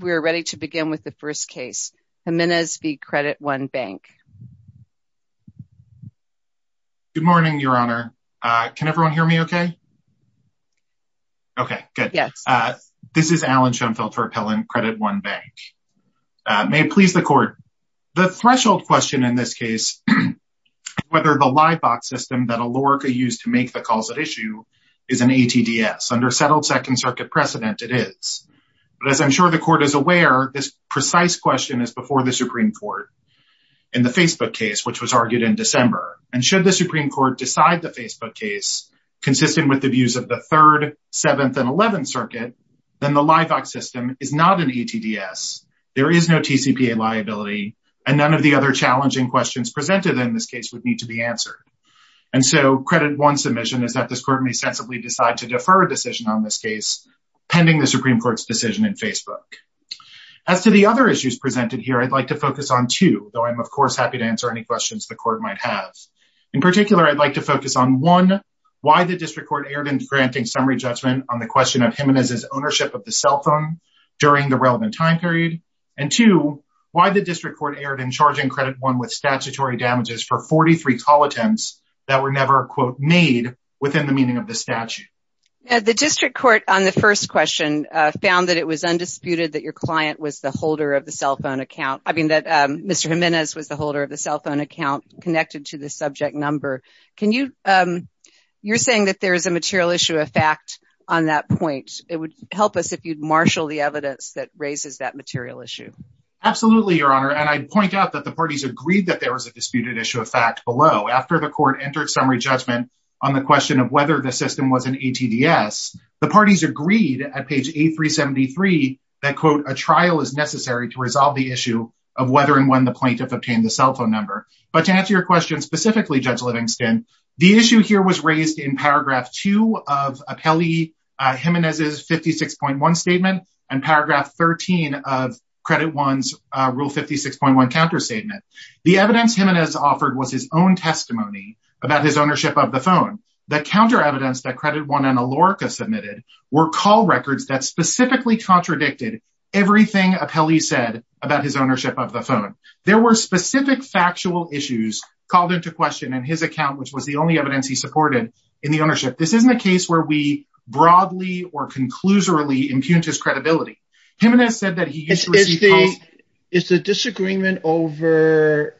Good morning, Your Honor. Can everyone hear me okay? Okay, good. This is Alan Schoenfeldt for Appellant Credit One Bank. May it please the Court. The threshold question in this case is whether the live box system that Alorica used to make the calls at issue is an ATDS. Under settled Second Circuit precedent, it is. But as I'm sure the Court is aware, this precise question is before the Supreme Court in the Facebook case, which was argued in December. And should the Supreme Court decide the Facebook case consistent with the views of the Third, Seventh, and Eleventh Circuit, then the live box system is not an ATDS, there is no TCPA liability, and none of the other challenging questions presented in this case would need to be answered. And so Credit One submission is that this Court may sensibly decide to defer a decision on this case pending the Supreme Court's decision in Facebook. As to the other issues presented here, I'd like to focus on two, though I'm of course happy to answer any questions the Court might have. In particular, I'd like to focus on one, why the District Court erred in granting summary judgment on the question of Jimenez's ownership of the cell phone during the relevant time period, and two, why the District Court erred in charging Credit One with statutory damages for 43 call attempts that were never quote made within the meaning of the statute. The District Court on the first question found that it was undisputed that your client was the holder of the cell phone account, I mean that Mr. Jimenez was the holder of the cell phone account connected to the subject number. You're saying that there is a material issue of fact on that point. It would help us if you'd marshal the evidence that raises that material issue. Absolutely, Your Honor, and I'd point out that the parties agreed that there was a disputed issue of fact below. After the Court entered summary judgment on the question of whether the system was an ATDS, the parties agreed at page 8373 that, quote, a trial is necessary to resolve the issue of whether and when the plaintiff obtained the cell phone number. But to answer your question specifically, Judge Livingston, the issue here was raised in paragraph 2 of Appellee Jimenez's 56.1 statement and paragraph 13 of Credit One's counterstatement. The evidence Jimenez offered was his own testimony about his ownership of the phone. The counter evidence that Credit One and Alorica submitted were call records that specifically contradicted everything Appellee said about his ownership of the phone. There were specific factual issues called into question in his account, which was the only evidence he supported in the ownership. This isn't a case where we broadly or conclusively impugned his credibility. Jimenez said that he used to receive calls... Is the disagreement over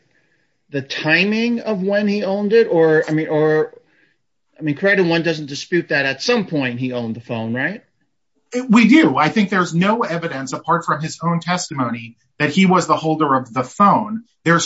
the timing of when he owned it? Or, I mean, Credit One doesn't dispute that at some point he owned the phone, right? We do. I think there's no evidence apart from his own testimony that he was the holder of the phone. That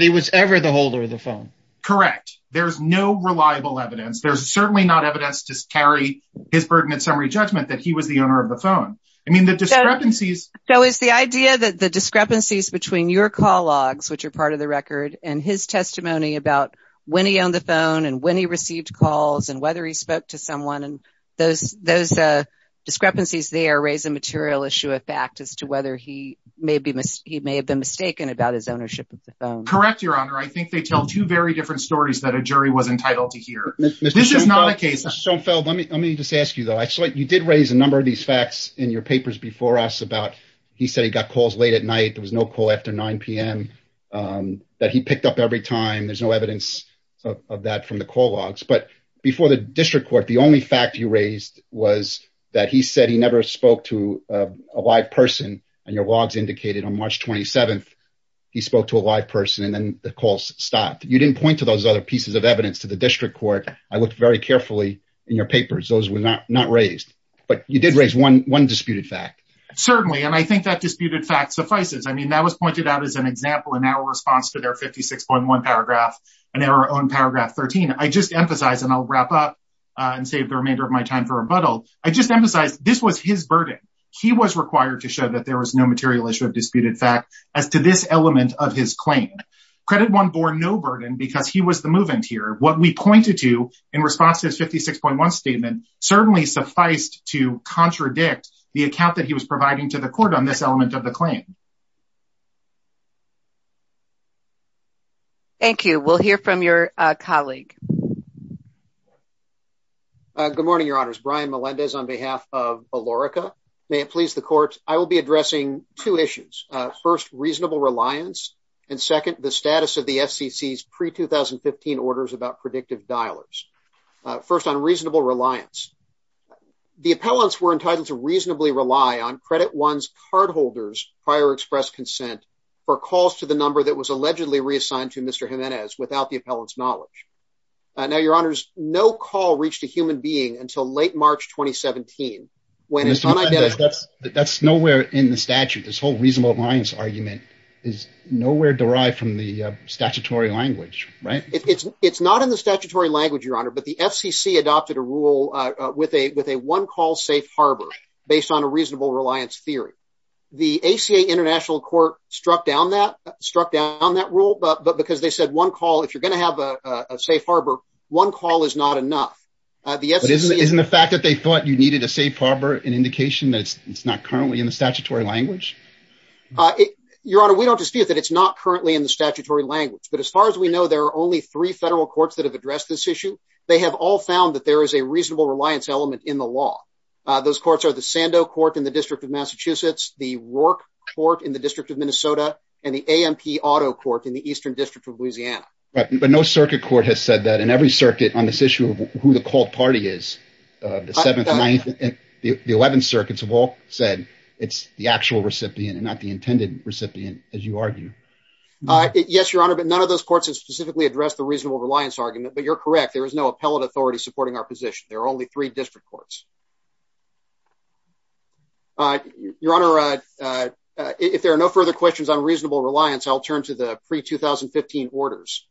he was ever the holder of the phone. Correct. There's no reliable evidence. There's certainly not evidence to carry his burden at summary judgment that he was the owner of the phone. I mean, the discrepancies... So, is the idea that the discrepancies between your call logs, which are part of the record, and his testimony about when he owned the phone and when he received calls and whether he spoke to someone and those discrepancies there raise a material issue of fact as to whether he may have been mistaken about his ownership of the phone. Correct, Your Honor. I think they tell two very different stories that a jury was entitled to hear. This is not a case... Mr. Schoenfeld, let me just ask you, though. You did raise a number of these facts in your papers before us about he said he got calls late at night. There was no call after 9 p.m. that he picked up every time. There's no evidence of that from the call logs. But before the district court, the only fact you raised was that he said he never spoke to a live person and your logs indicated on March 27th he spoke to a live person and then the calls stopped. You didn't point to those other pieces of evidence to the district court. I looked very carefully in your papers. Those were not raised. But you did raise one disputed fact. Certainly, and I think that disputed fact suffices. I mean, that was pointed out as an example in our response to their 56.1 paragraph and our own paragraph 13. I just emphasize and I'll wrap up and save the remainder of my time for rebuttal. I just emphasize this was his burden. He was required to show that there was no material issue of disputed fact as to this element of his claim. Credit one bore no burden because he was the move in here. What we pointed to in response to his 56.1 statement certainly sufficed to contradict the account that he was providing to the court on this element of the claim. Thank you. We'll hear from your colleague. Good morning, Your Honors. Brian Melendez on behalf of Alorica. May it please the court. First, I will be addressing two issues. First, reasonable reliance. And second, the status of the FCC's pre-2015 orders about predictive dialers. First, on reasonable reliance. The appellants were entitled to reasonably rely on Credit One's cardholders' prior express consent for calls to the number that was allegedly reassigned to Mr. Jimenez without the appellant's knowledge. Now, Your Honors, no call reached a human being until late March 2017 when his That's nowhere in the statute. This whole reasonable reliance argument is nowhere derived from the statutory language, right? It's not in the statutory language, Your Honor, but the FCC adopted a rule with a with a one call safe harbor based on a reasonable reliance theory. The ACA International Court struck down that, struck down that rule, but because they said one call, if you're going to have a safe harbor, one call is not enough. Isn't the fact that they thought you needed a safe harbor an indication that it's not currently in the statutory language? Your Honor, we don't dispute that it's not currently in the statutory language, but as far as we know, there are only three federal courts that have addressed this issue. They have all found that there is a reasonable reliance element in the law. Those courts are the Sando Court in the District of Massachusetts, the Rourke Court in the District of Minnesota, and the AMP Auto Court in the Eastern District of Louisiana. Right, but no circuit court has said that. And every circuit on this issue of who the the 11 circuits have all said it's the actual recipient and not the intended recipient, as you argue. Yes, Your Honor, but none of those courts has specifically addressed the reasonable reliance argument, but you're correct. There is no appellate authority supporting our position. There are only three district courts. Your Honor, if there are no further questions on reasonable reliance, I'll turn to the pre-2015 orders.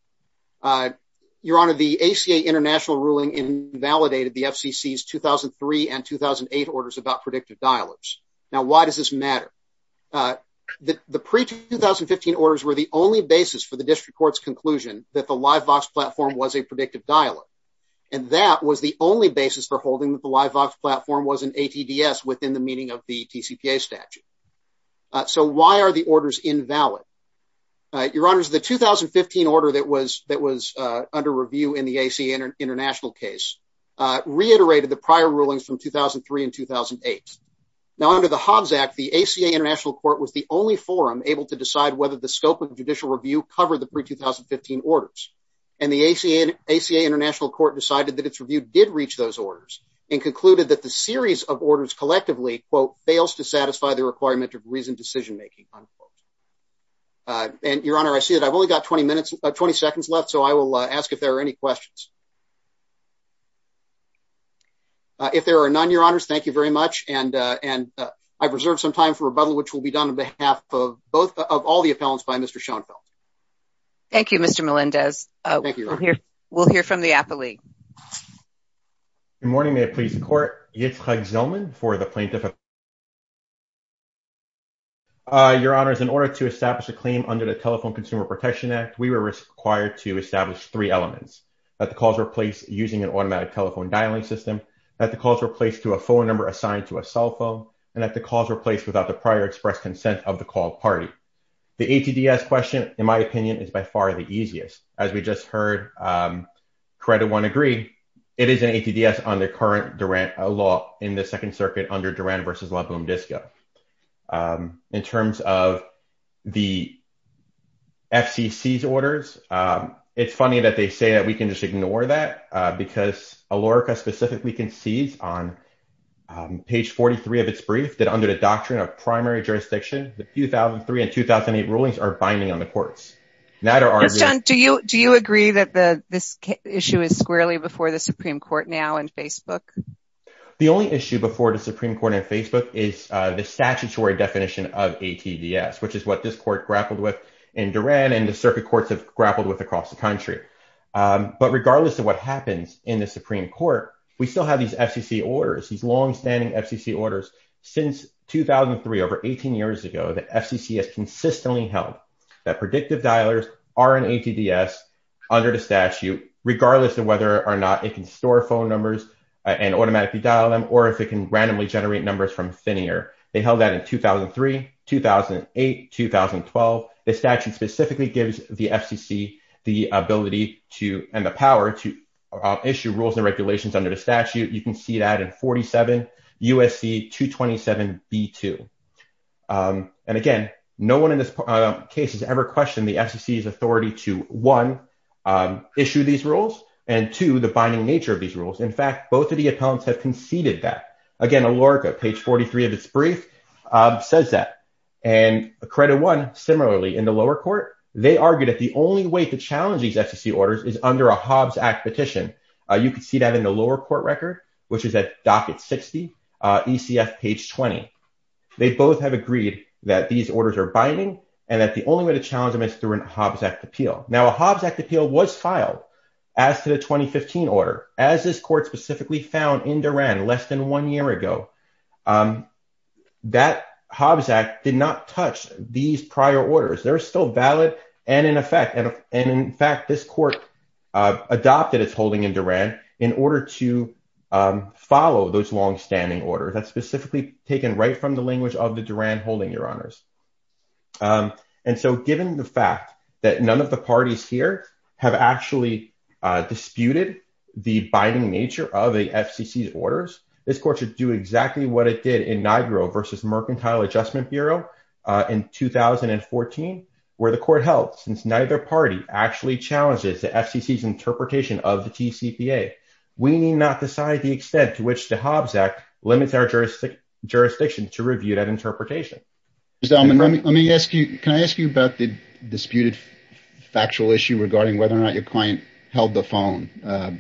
Your Honor, the ACA international ruling invalidated the FCC's 2003 and 2008 orders about predictive dialers. Now, why does this matter? The pre-2015 orders were the only basis for the district court's conclusion that the LiveVox platform was a predictive dialer, and that was the only basis for holding that the LiveVox platform was an ATDS within the statute. So, why are the orders invalid? Your Honor, the 2015 order that was under review in the ACA international case reiterated the prior rulings from 2003 and 2008. Now, under the Hobbs Act, the ACA international court was the only forum able to decide whether the scope of judicial review covered the pre-2015 orders, and the ACA international court decided that its review did and concluded that the series of orders collectively fails to satisfy the requirement of reasoned decision-making. Your Honor, I see that I've only got 20 seconds left, so I will ask if there are any questions. If there are none, Your Honors, thank you very much. I've reserved some time for rebuttal, which will be done on behalf of all the appellants by Mr. Schoenfeld. Thank you, Mr. Melendez. We'll hear from the appellee. Good morning. May it please the court. Yitzhak Zillman for the plaintiff. Your Honors, in order to establish a claim under the Telephone Consumer Protection Act, we were required to establish three elements, that the calls were placed using an automatic telephone dialing system, that the calls were placed to a phone number assigned to a cell phone, and that the calls were placed without the prior express consent of the call party. The ATDS question, in my opinion, is by far the easiest. As we just heard, Credit One agree, it is an ATDS under current Durant law in the Second Circuit, under Durant v. La Boom Disco. In terms of the FCC's orders, it's funny that they say that we can just ignore that, because ALERCA specifically concedes on page 43 of its brief, that under the doctrine of primary jurisdiction, the 2003 and 2008 rulings are binding on the issue. The only issue before the Supreme Court in Facebook is the statutory definition of ATDS, which is what this court grappled with in Durant, and the circuit courts have grappled with across the country. But regardless of what happens in the Supreme Court, we still have these FCC orders, these longstanding FCC orders. Since 2003, over 18 years ago, the FCC has consistently held that predictive dialers are an ATDS under the statute, regardless of whether or not it can store phone numbers and automatically dial them, or if it can randomly generate numbers from ThinAir. They held that in 2003, 2008, 2012. The statute specifically gives the FCC the ability to, and the power to, issue rules and regulations under the statute. You can see that in 47 USC 227b2. And again, no one in this case has ever questioned the FCC's authority to, one, issue these rules, and two, the binding nature of these rules. In fact, both of the appellants have conceded that. Again, ALERCA, page 43 of its brief, says that. And Credit One, similarly, in the lower court, they argued that the only way to challenge these FCC orders is under a Hobbs Act petition. You can see that in the lower court record, which is at docket 60, ECF page 20. They both have agreed that these orders are binding, and that the only way to challenge them is through a Hobbs Act appeal. Now, a Hobbs Act appeal was filed as to the 2015 order, as this court specifically found in Duran less than one year ago. That Hobbs Act did not touch these prior orders. They're still valid and in effect. And in fact, this court adopted its holding in Duran in order to follow those longstanding orders. That's specifically taken right from the language of the Duran holding, your honors. And so given the fact that none of the parties here have actually disputed the binding nature of the FCC's orders, this court should do exactly what it did in NIGRO versus Mercantile Adjustment Bureau in 2014, where the court held, since neither party actually challenges the FCC's interpretation of the TCPA, we need not decide the extent to which the Hobbs Act limits our jurisdiction to review that interpretation. Let me ask you, can I ask you about the disputed factual issue regarding whether or not your client held the phone?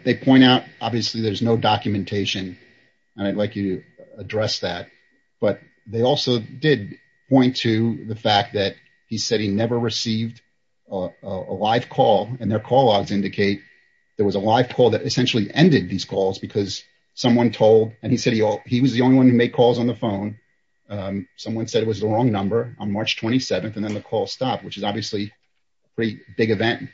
They point out, obviously there's no documentation, and I'd like you to address that. But they also did point to the fact that he said he never received a live call and their call logs indicate there was a live call that essentially ended these calls because someone told, and he said he was the only one who made calls on the phone. Someone said it was the wrong number on March 27th, and then the call stopped, which is obviously pretty big event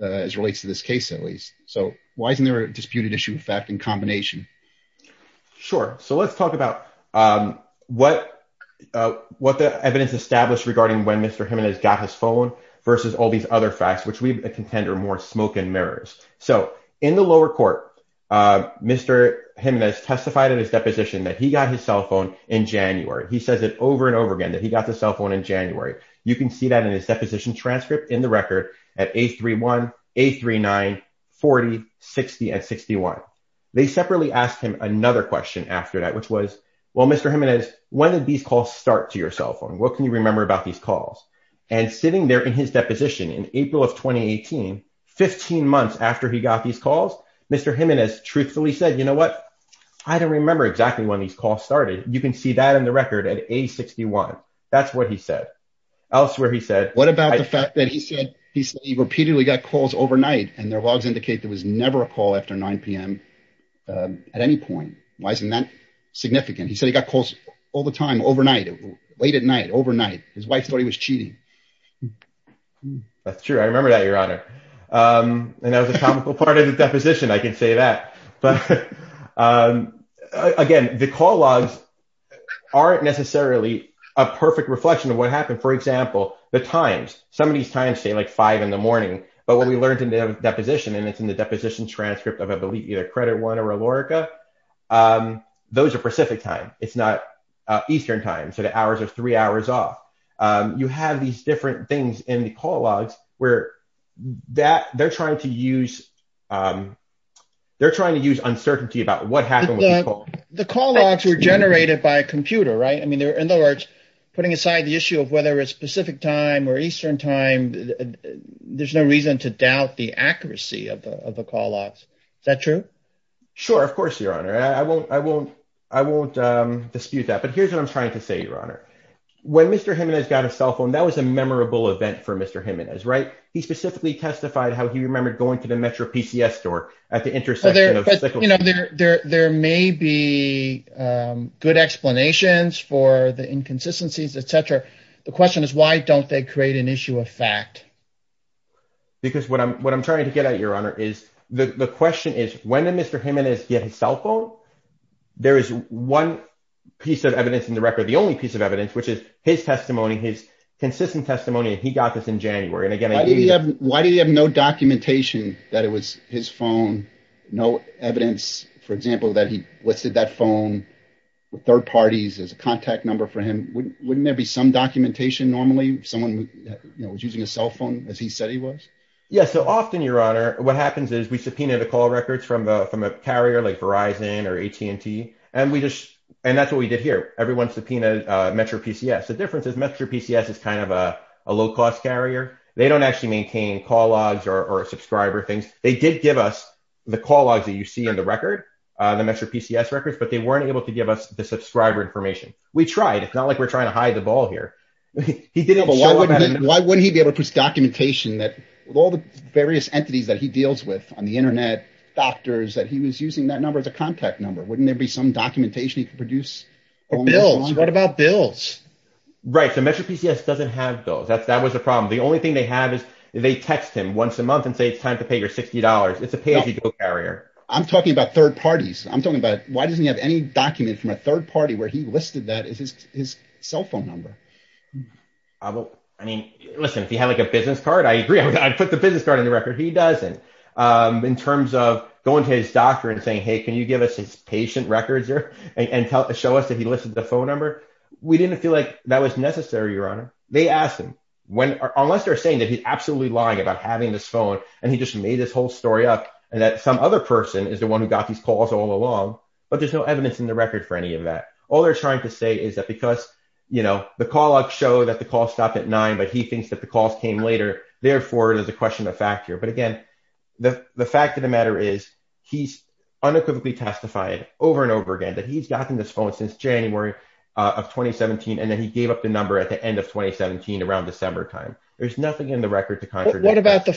as relates to this case, at least. So why isn't there a disputed issue effect in combination? Sure. So let's talk about what the evidence established regarding when Mr. Jimenez testified in his deposition that he got his cell phone in January. He says it over and over again that he got the cell phone in January. You can see that in his deposition transcript in the record at A31, A39, 40, 60, and 61. They separately asked him another question after that, which was, well, Mr. Jimenez, when did these calls start to your cell phone? What can you remember about these calls? And sitting there in his deposition in April of 2018, 15 months after he got these calls, Mr. Jimenez truthfully said, you know what? I don't remember exactly when these calls started. You can see that in the record at A61. That's what he said. Elsewhere he said- What about the fact that he said he repeatedly got calls overnight and their logs indicate there was never a call after 9 p.m. at any point. Why isn't that significant? He said he got calls all the time overnight, late at night, overnight. His wife thought he was cheating. That's true. I remember that, Your Honor. And that was a topical part of the deposition, I can say that. But again, the call logs aren't necessarily a perfect reflection of what happened. For example, the times. Some of these times say like 5 in the morning. But what we learned in the deposition, and it's in the deposition transcript of either Credit One or Illorica, those are Pacific time. It's not Eastern time. So the hours are three hours off. You have these different things in the call logs where they're trying to use uncertainty about what happened. The call logs were generated by a computer, right? I mean, in other words, putting aside the issue of whether it's Pacific time or Eastern time, there's no reason to doubt the accuracy of the call logs. Is that true? Sure, of course, Your Honor. I won't dispute that. But here's what I'm trying to say, Your Honor. When Mr. Jimenez got a cell phone, that was a memorable event for Mr. Jimenez, right? He specifically testified how he remembered going to the Metro PCS store at the intersection. There may be good explanations for the inconsistencies, etc. The question is, why don't they create an issue of fact? Because what I'm trying to get at, Your Honor, is the question is when did Mr. Jimenez get his cell phone? There is one piece of evidence in the record, the only piece of evidence, which is his testimony, his consistent testimony. He got this in January. Why did he have no documentation that it was his phone? No evidence, for example, that he listed that phone with third parties as a contact number for him? Wouldn't there be some documentation normally? Someone was using a cell phone as he said he was? Yes. Often, Your Honor, what happens is we subpoena the call records from a carrier like Verizon or AT&T. That's what we did here. Everyone subpoenaed Metro PCS. The difference is Metro PCS is kind of a low-cost carrier. They don't actually maintain call logs or subscriber things. They did give us the call logs that you see in the record, the Metro PCS records, but they weren't able to the subscriber information. We tried. It's not like we're trying to hide the ball here. Why wouldn't he be able to put documentation that with all the various entities that he deals with on the internet, doctors, that he was using that number as a contact number? Wouldn't there be some documentation he could produce? Or bills. What about bills? Right. Metro PCS doesn't have bills. That was the problem. The only thing they have is they text him once a month and say, it's time to pay your $60. It's a pay-as-you-go carrier. I'm talking about third parties. Why doesn't he have any document from a third party where he listed that as his cell phone number? I mean, listen, if he had a business card, I agree. I'd put the business card in the record. He doesn't. In terms of going to his doctor and saying, hey, can you give us his patient records here and show us that he listed the phone number? We didn't feel like that was necessary, Your Honor. They asked him. Unless they're saying that he's absolutely lying about having this phone and he just made this whole story up and that some other person is the one who got these calls all along, but there's no evidence in the record for any of that. All they're trying to say is that because the call logs show that the call stopped at nine, but he thinks that the calls came later. Therefore, there's a question of fact here. But again, the fact of the matter is he's unequivocally testified over and over again that he's gotten this phone since January of 2017. And then he gave up the number at the end of 2017, around December time. There's nothing in the record to contradict that. What about the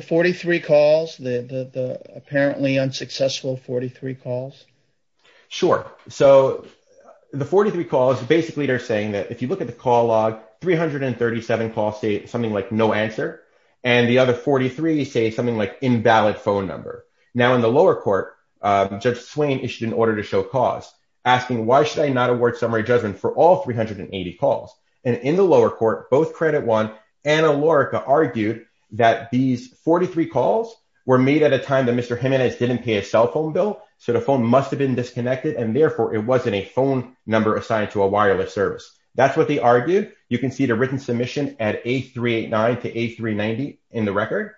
43 calls, the apparently unsuccessful 43 calls? Sure. So the 43 calls, basically they're saying that if you look at the call log, 337 calls say something like no answer. And the other 43 say something like invalid phone number. Now in the lower court, Judge Swain issued an order to show cause, asking why should I not award summary judgment for all 380 calls? And in the lower court, both Credit One and Alorica argued that these 43 calls were made at a time that Mr. Jimenez didn't pay a cell phone bill. So the phone must've been disconnected and therefore it wasn't a phone number assigned to a wireless service. That's what they argued. You can see the written submission at 8389 to 8390 in the record.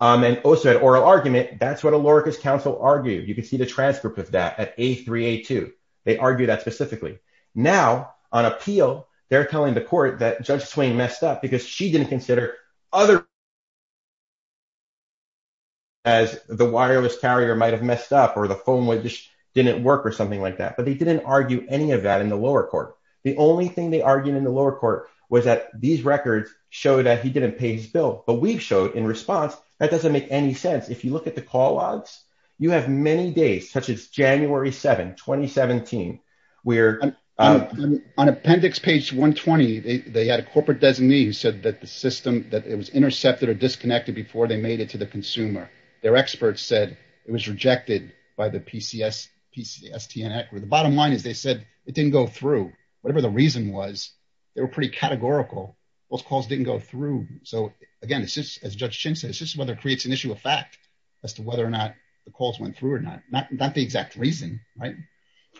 And also at oral argument, that's what Alorica's counsel argued. You can see the transcript of that at 8382. They argue that specifically. Now on appeal, they're telling the court that Judge Swain messed up because she didn't consider other as the wireless carrier might've messed up or the phone didn't work or something like that. But they didn't argue any of that in the lower court. The only thing they argued in the lower court was that these records show that he didn't pay his bill, but we've showed in response, that doesn't make any sense. If you look at the call logs, you have many days, such as January 7th, 2017, where- On appendix page 120, they had a corporate designee who said that the system, that it was intercepted or disconnected before they made it to the consumer. Their experts said it was rejected by the PCSTN. The bottom line is they said it didn't go through. Whatever the reason was, they were pretty categorical. Those calls didn't go through. So again, it's just as Judge Swain said, it doesn't issue a fact as to whether or not the calls went through or not. Not the exact reason, right?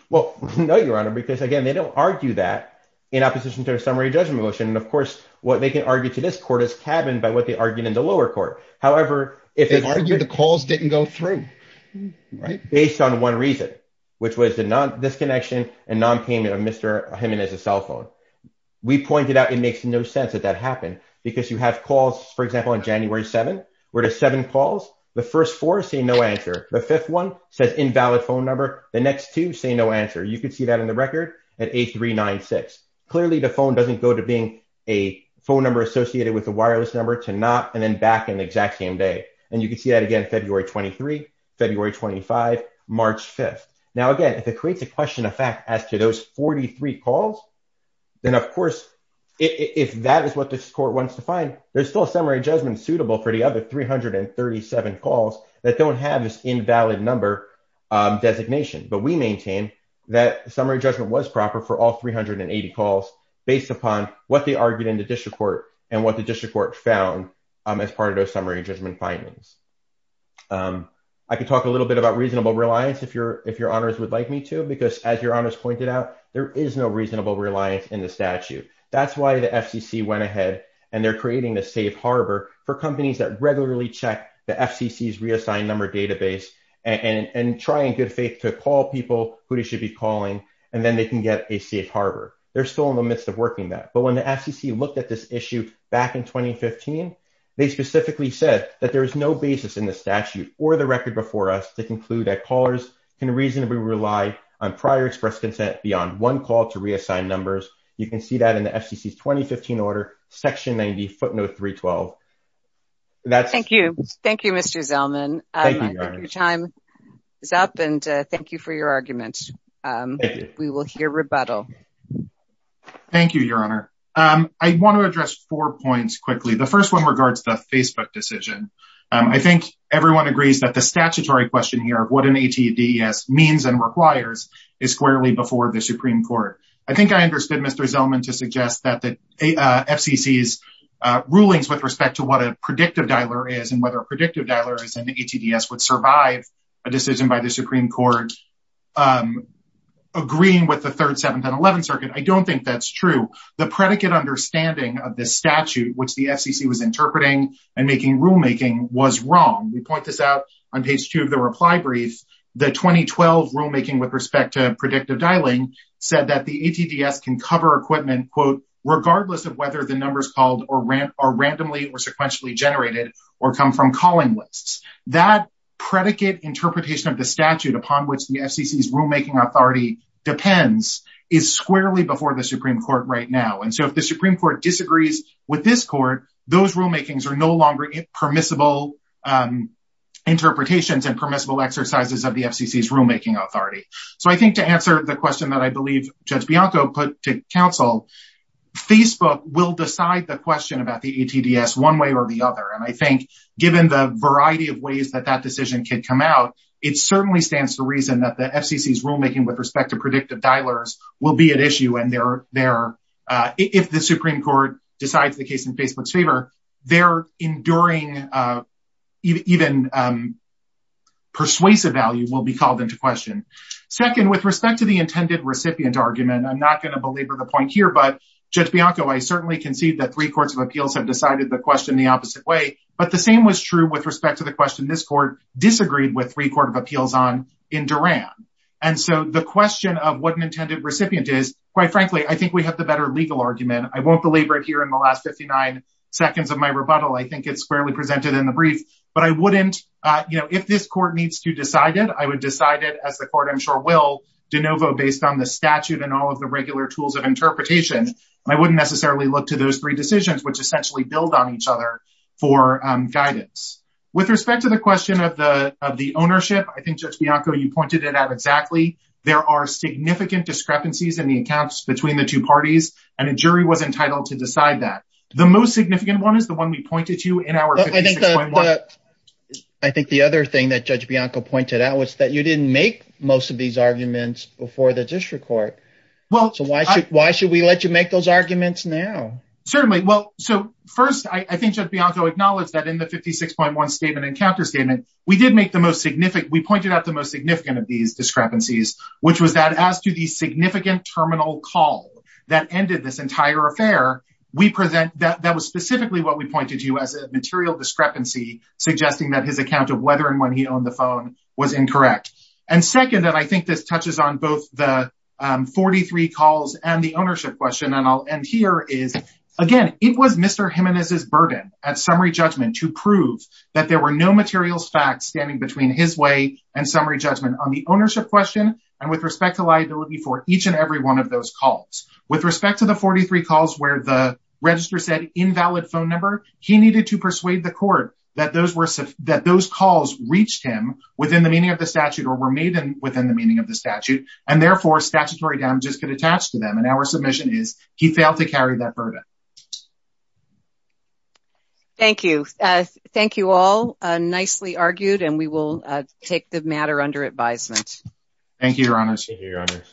Well, no, Your Honor, because again, they don't argue that in opposition to their summary judgment motion. And of course, what they can argue to this court is cabined by what they argued in the lower court. However, if- They argued the calls didn't go through, right? Based on one reason, which was the non-disconnection and non-payment of Mr. Himenez's cell phone. We pointed out it makes no sense that that happened because you have calls, for example, on January 7th, where there's seven calls. The first four say no answer. The fifth one says invalid phone number. The next two say no answer. You could see that in the record at 8396. Clearly, the phone doesn't go to being a phone number associated with a wireless number to not, and then back in the exact same day. And you can see that again, February 23, February 25, March 5th. Now again, if it creates a question of fact as to those 43 calls, then of course, if that is what this court wants to find, there's still a summary judgment suitable for the other 337 calls that don't have this invalid number designation. But we maintain that summary judgment was proper for all 380 calls based upon what they argued in the district court and what the district court found as part of those summary judgment findings. I can talk a little bit about reasonable reliance if your honors would like me to, because as your honors pointed out, there is no reasonable reliance in the statute. That's why the FCC went ahead and they're creating the safe harbor for companies that regularly check the FCC's reassigned number database and try in good faith to call people who they should be calling, and then they can get a safe harbor. They're still in the midst of working that. But when the FCC looked at this issue back in 2015, they specifically said that there was no basis in the statute or the record before us to conclude that callers can reasonably rely on prior express consent beyond one call to reassign numbers. You can see that in the FCC's 2015 order, section 90 footnote 312. Thank you. Thank you, Mr. Zellman. Your time is up and thank you for your argument. We will hear rebuttal. Thank you, your honor. I want to address four points quickly. The first one regards the Facebook decision. I think everyone agrees that the statutory question here of what an ATDES means and requires is squarely before the Supreme Court. I think I understood Mr. Zellman to suggest that FCC's rulings with respect to what a predictive dialer is and whether a predictive dialer is an ATDES would survive a decision by the Supreme Court agreeing with the third, seventh, and eleventh circuit. I don't think that's true. The predicate understanding of this statute, which the FCC was interpreting and making rulemaking, was wrong. We point this out on page two of the reply brief. The 2012 rulemaking with respect to predictive dialing said that the ATDES can cover equipment regardless of whether the numbers called are randomly or sequentially generated or come from calling lists. That predicate interpretation of the statute upon which the FCC's rulemaking authority depends is squarely before the Supreme Court right now. If the Supreme Court disagrees with this court, those rulemakings are no longer permissible interpretations and permissible exercises of the FCC's rulemaking authority. I think to answer the question that I believe Judge Bianco put to counsel, Facebook will decide the question about the ATDES one way or the other. I think, given the variety of ways that that decision could come out, it certainly stands to reason that the FCC's rulemaking with respect to predictive dialers will be at issue if the Supreme Court decides the case in Facebook's favor. Their enduring persuasive value will be called into question. Second, with respect to the intended recipient argument, I'm not going to belabor the point here, but Judge Bianco, I certainly concede that three courts of appeals have decided the question the opposite way, but the same was true with respect to the question this court disagreed with three court of appeals on in Duran. And so the question of what an intended recipient is, quite frankly, I think we have the better legal argument. I won't belabor it in the last 59 seconds of my rebuttal. I think it's fairly presented in the brief, but I wouldn't, you know, if this court needs to decide it, I would decide it as the court, I'm sure, will de novo based on the statute and all of the regular tools of interpretation. I wouldn't necessarily look to those three decisions, which essentially build on each other for guidance. With respect to the question of the ownership, I think Judge Bianco, you pointed it out exactly. There are significant discrepancies in the accounts between the two The most significant one is the one we pointed to in our I think the other thing that Judge Bianco pointed out was that you didn't make most of these arguments before the district court. So why should we let you make those arguments now? Certainly. Well, so first, I think Judge Bianco acknowledged that in the 56.1 statement and counter statement, we did make the most significant, we pointed out the most significant of these discrepancies, which was that as to the significant terminal call that ended this entire affair, we present that that was specifically what we pointed to as a material discrepancy, suggesting that his account of whether and when he owned the phone was incorrect. And second, and I think this touches on both the 43 calls and the ownership question, and I'll end here is, again, it was Mr. Jimenez's burden at summary judgment to prove that there were no materials facts standing between his way and summary judgment on the ownership question, and with respect to liability for each and every one of those calls. With respect to the 43 calls where the register said invalid phone number, he needed to persuade the court that those were that those calls reached him within the meaning of the statute or were made within the meaning of the statute, and therefore statutory damages could attach to them and our submission is he failed to carry that burden. Thank you. Thank you all. Nicely argued and we will take the matter under advisement. Thank you, Your Honor. Thank you, Your Honor.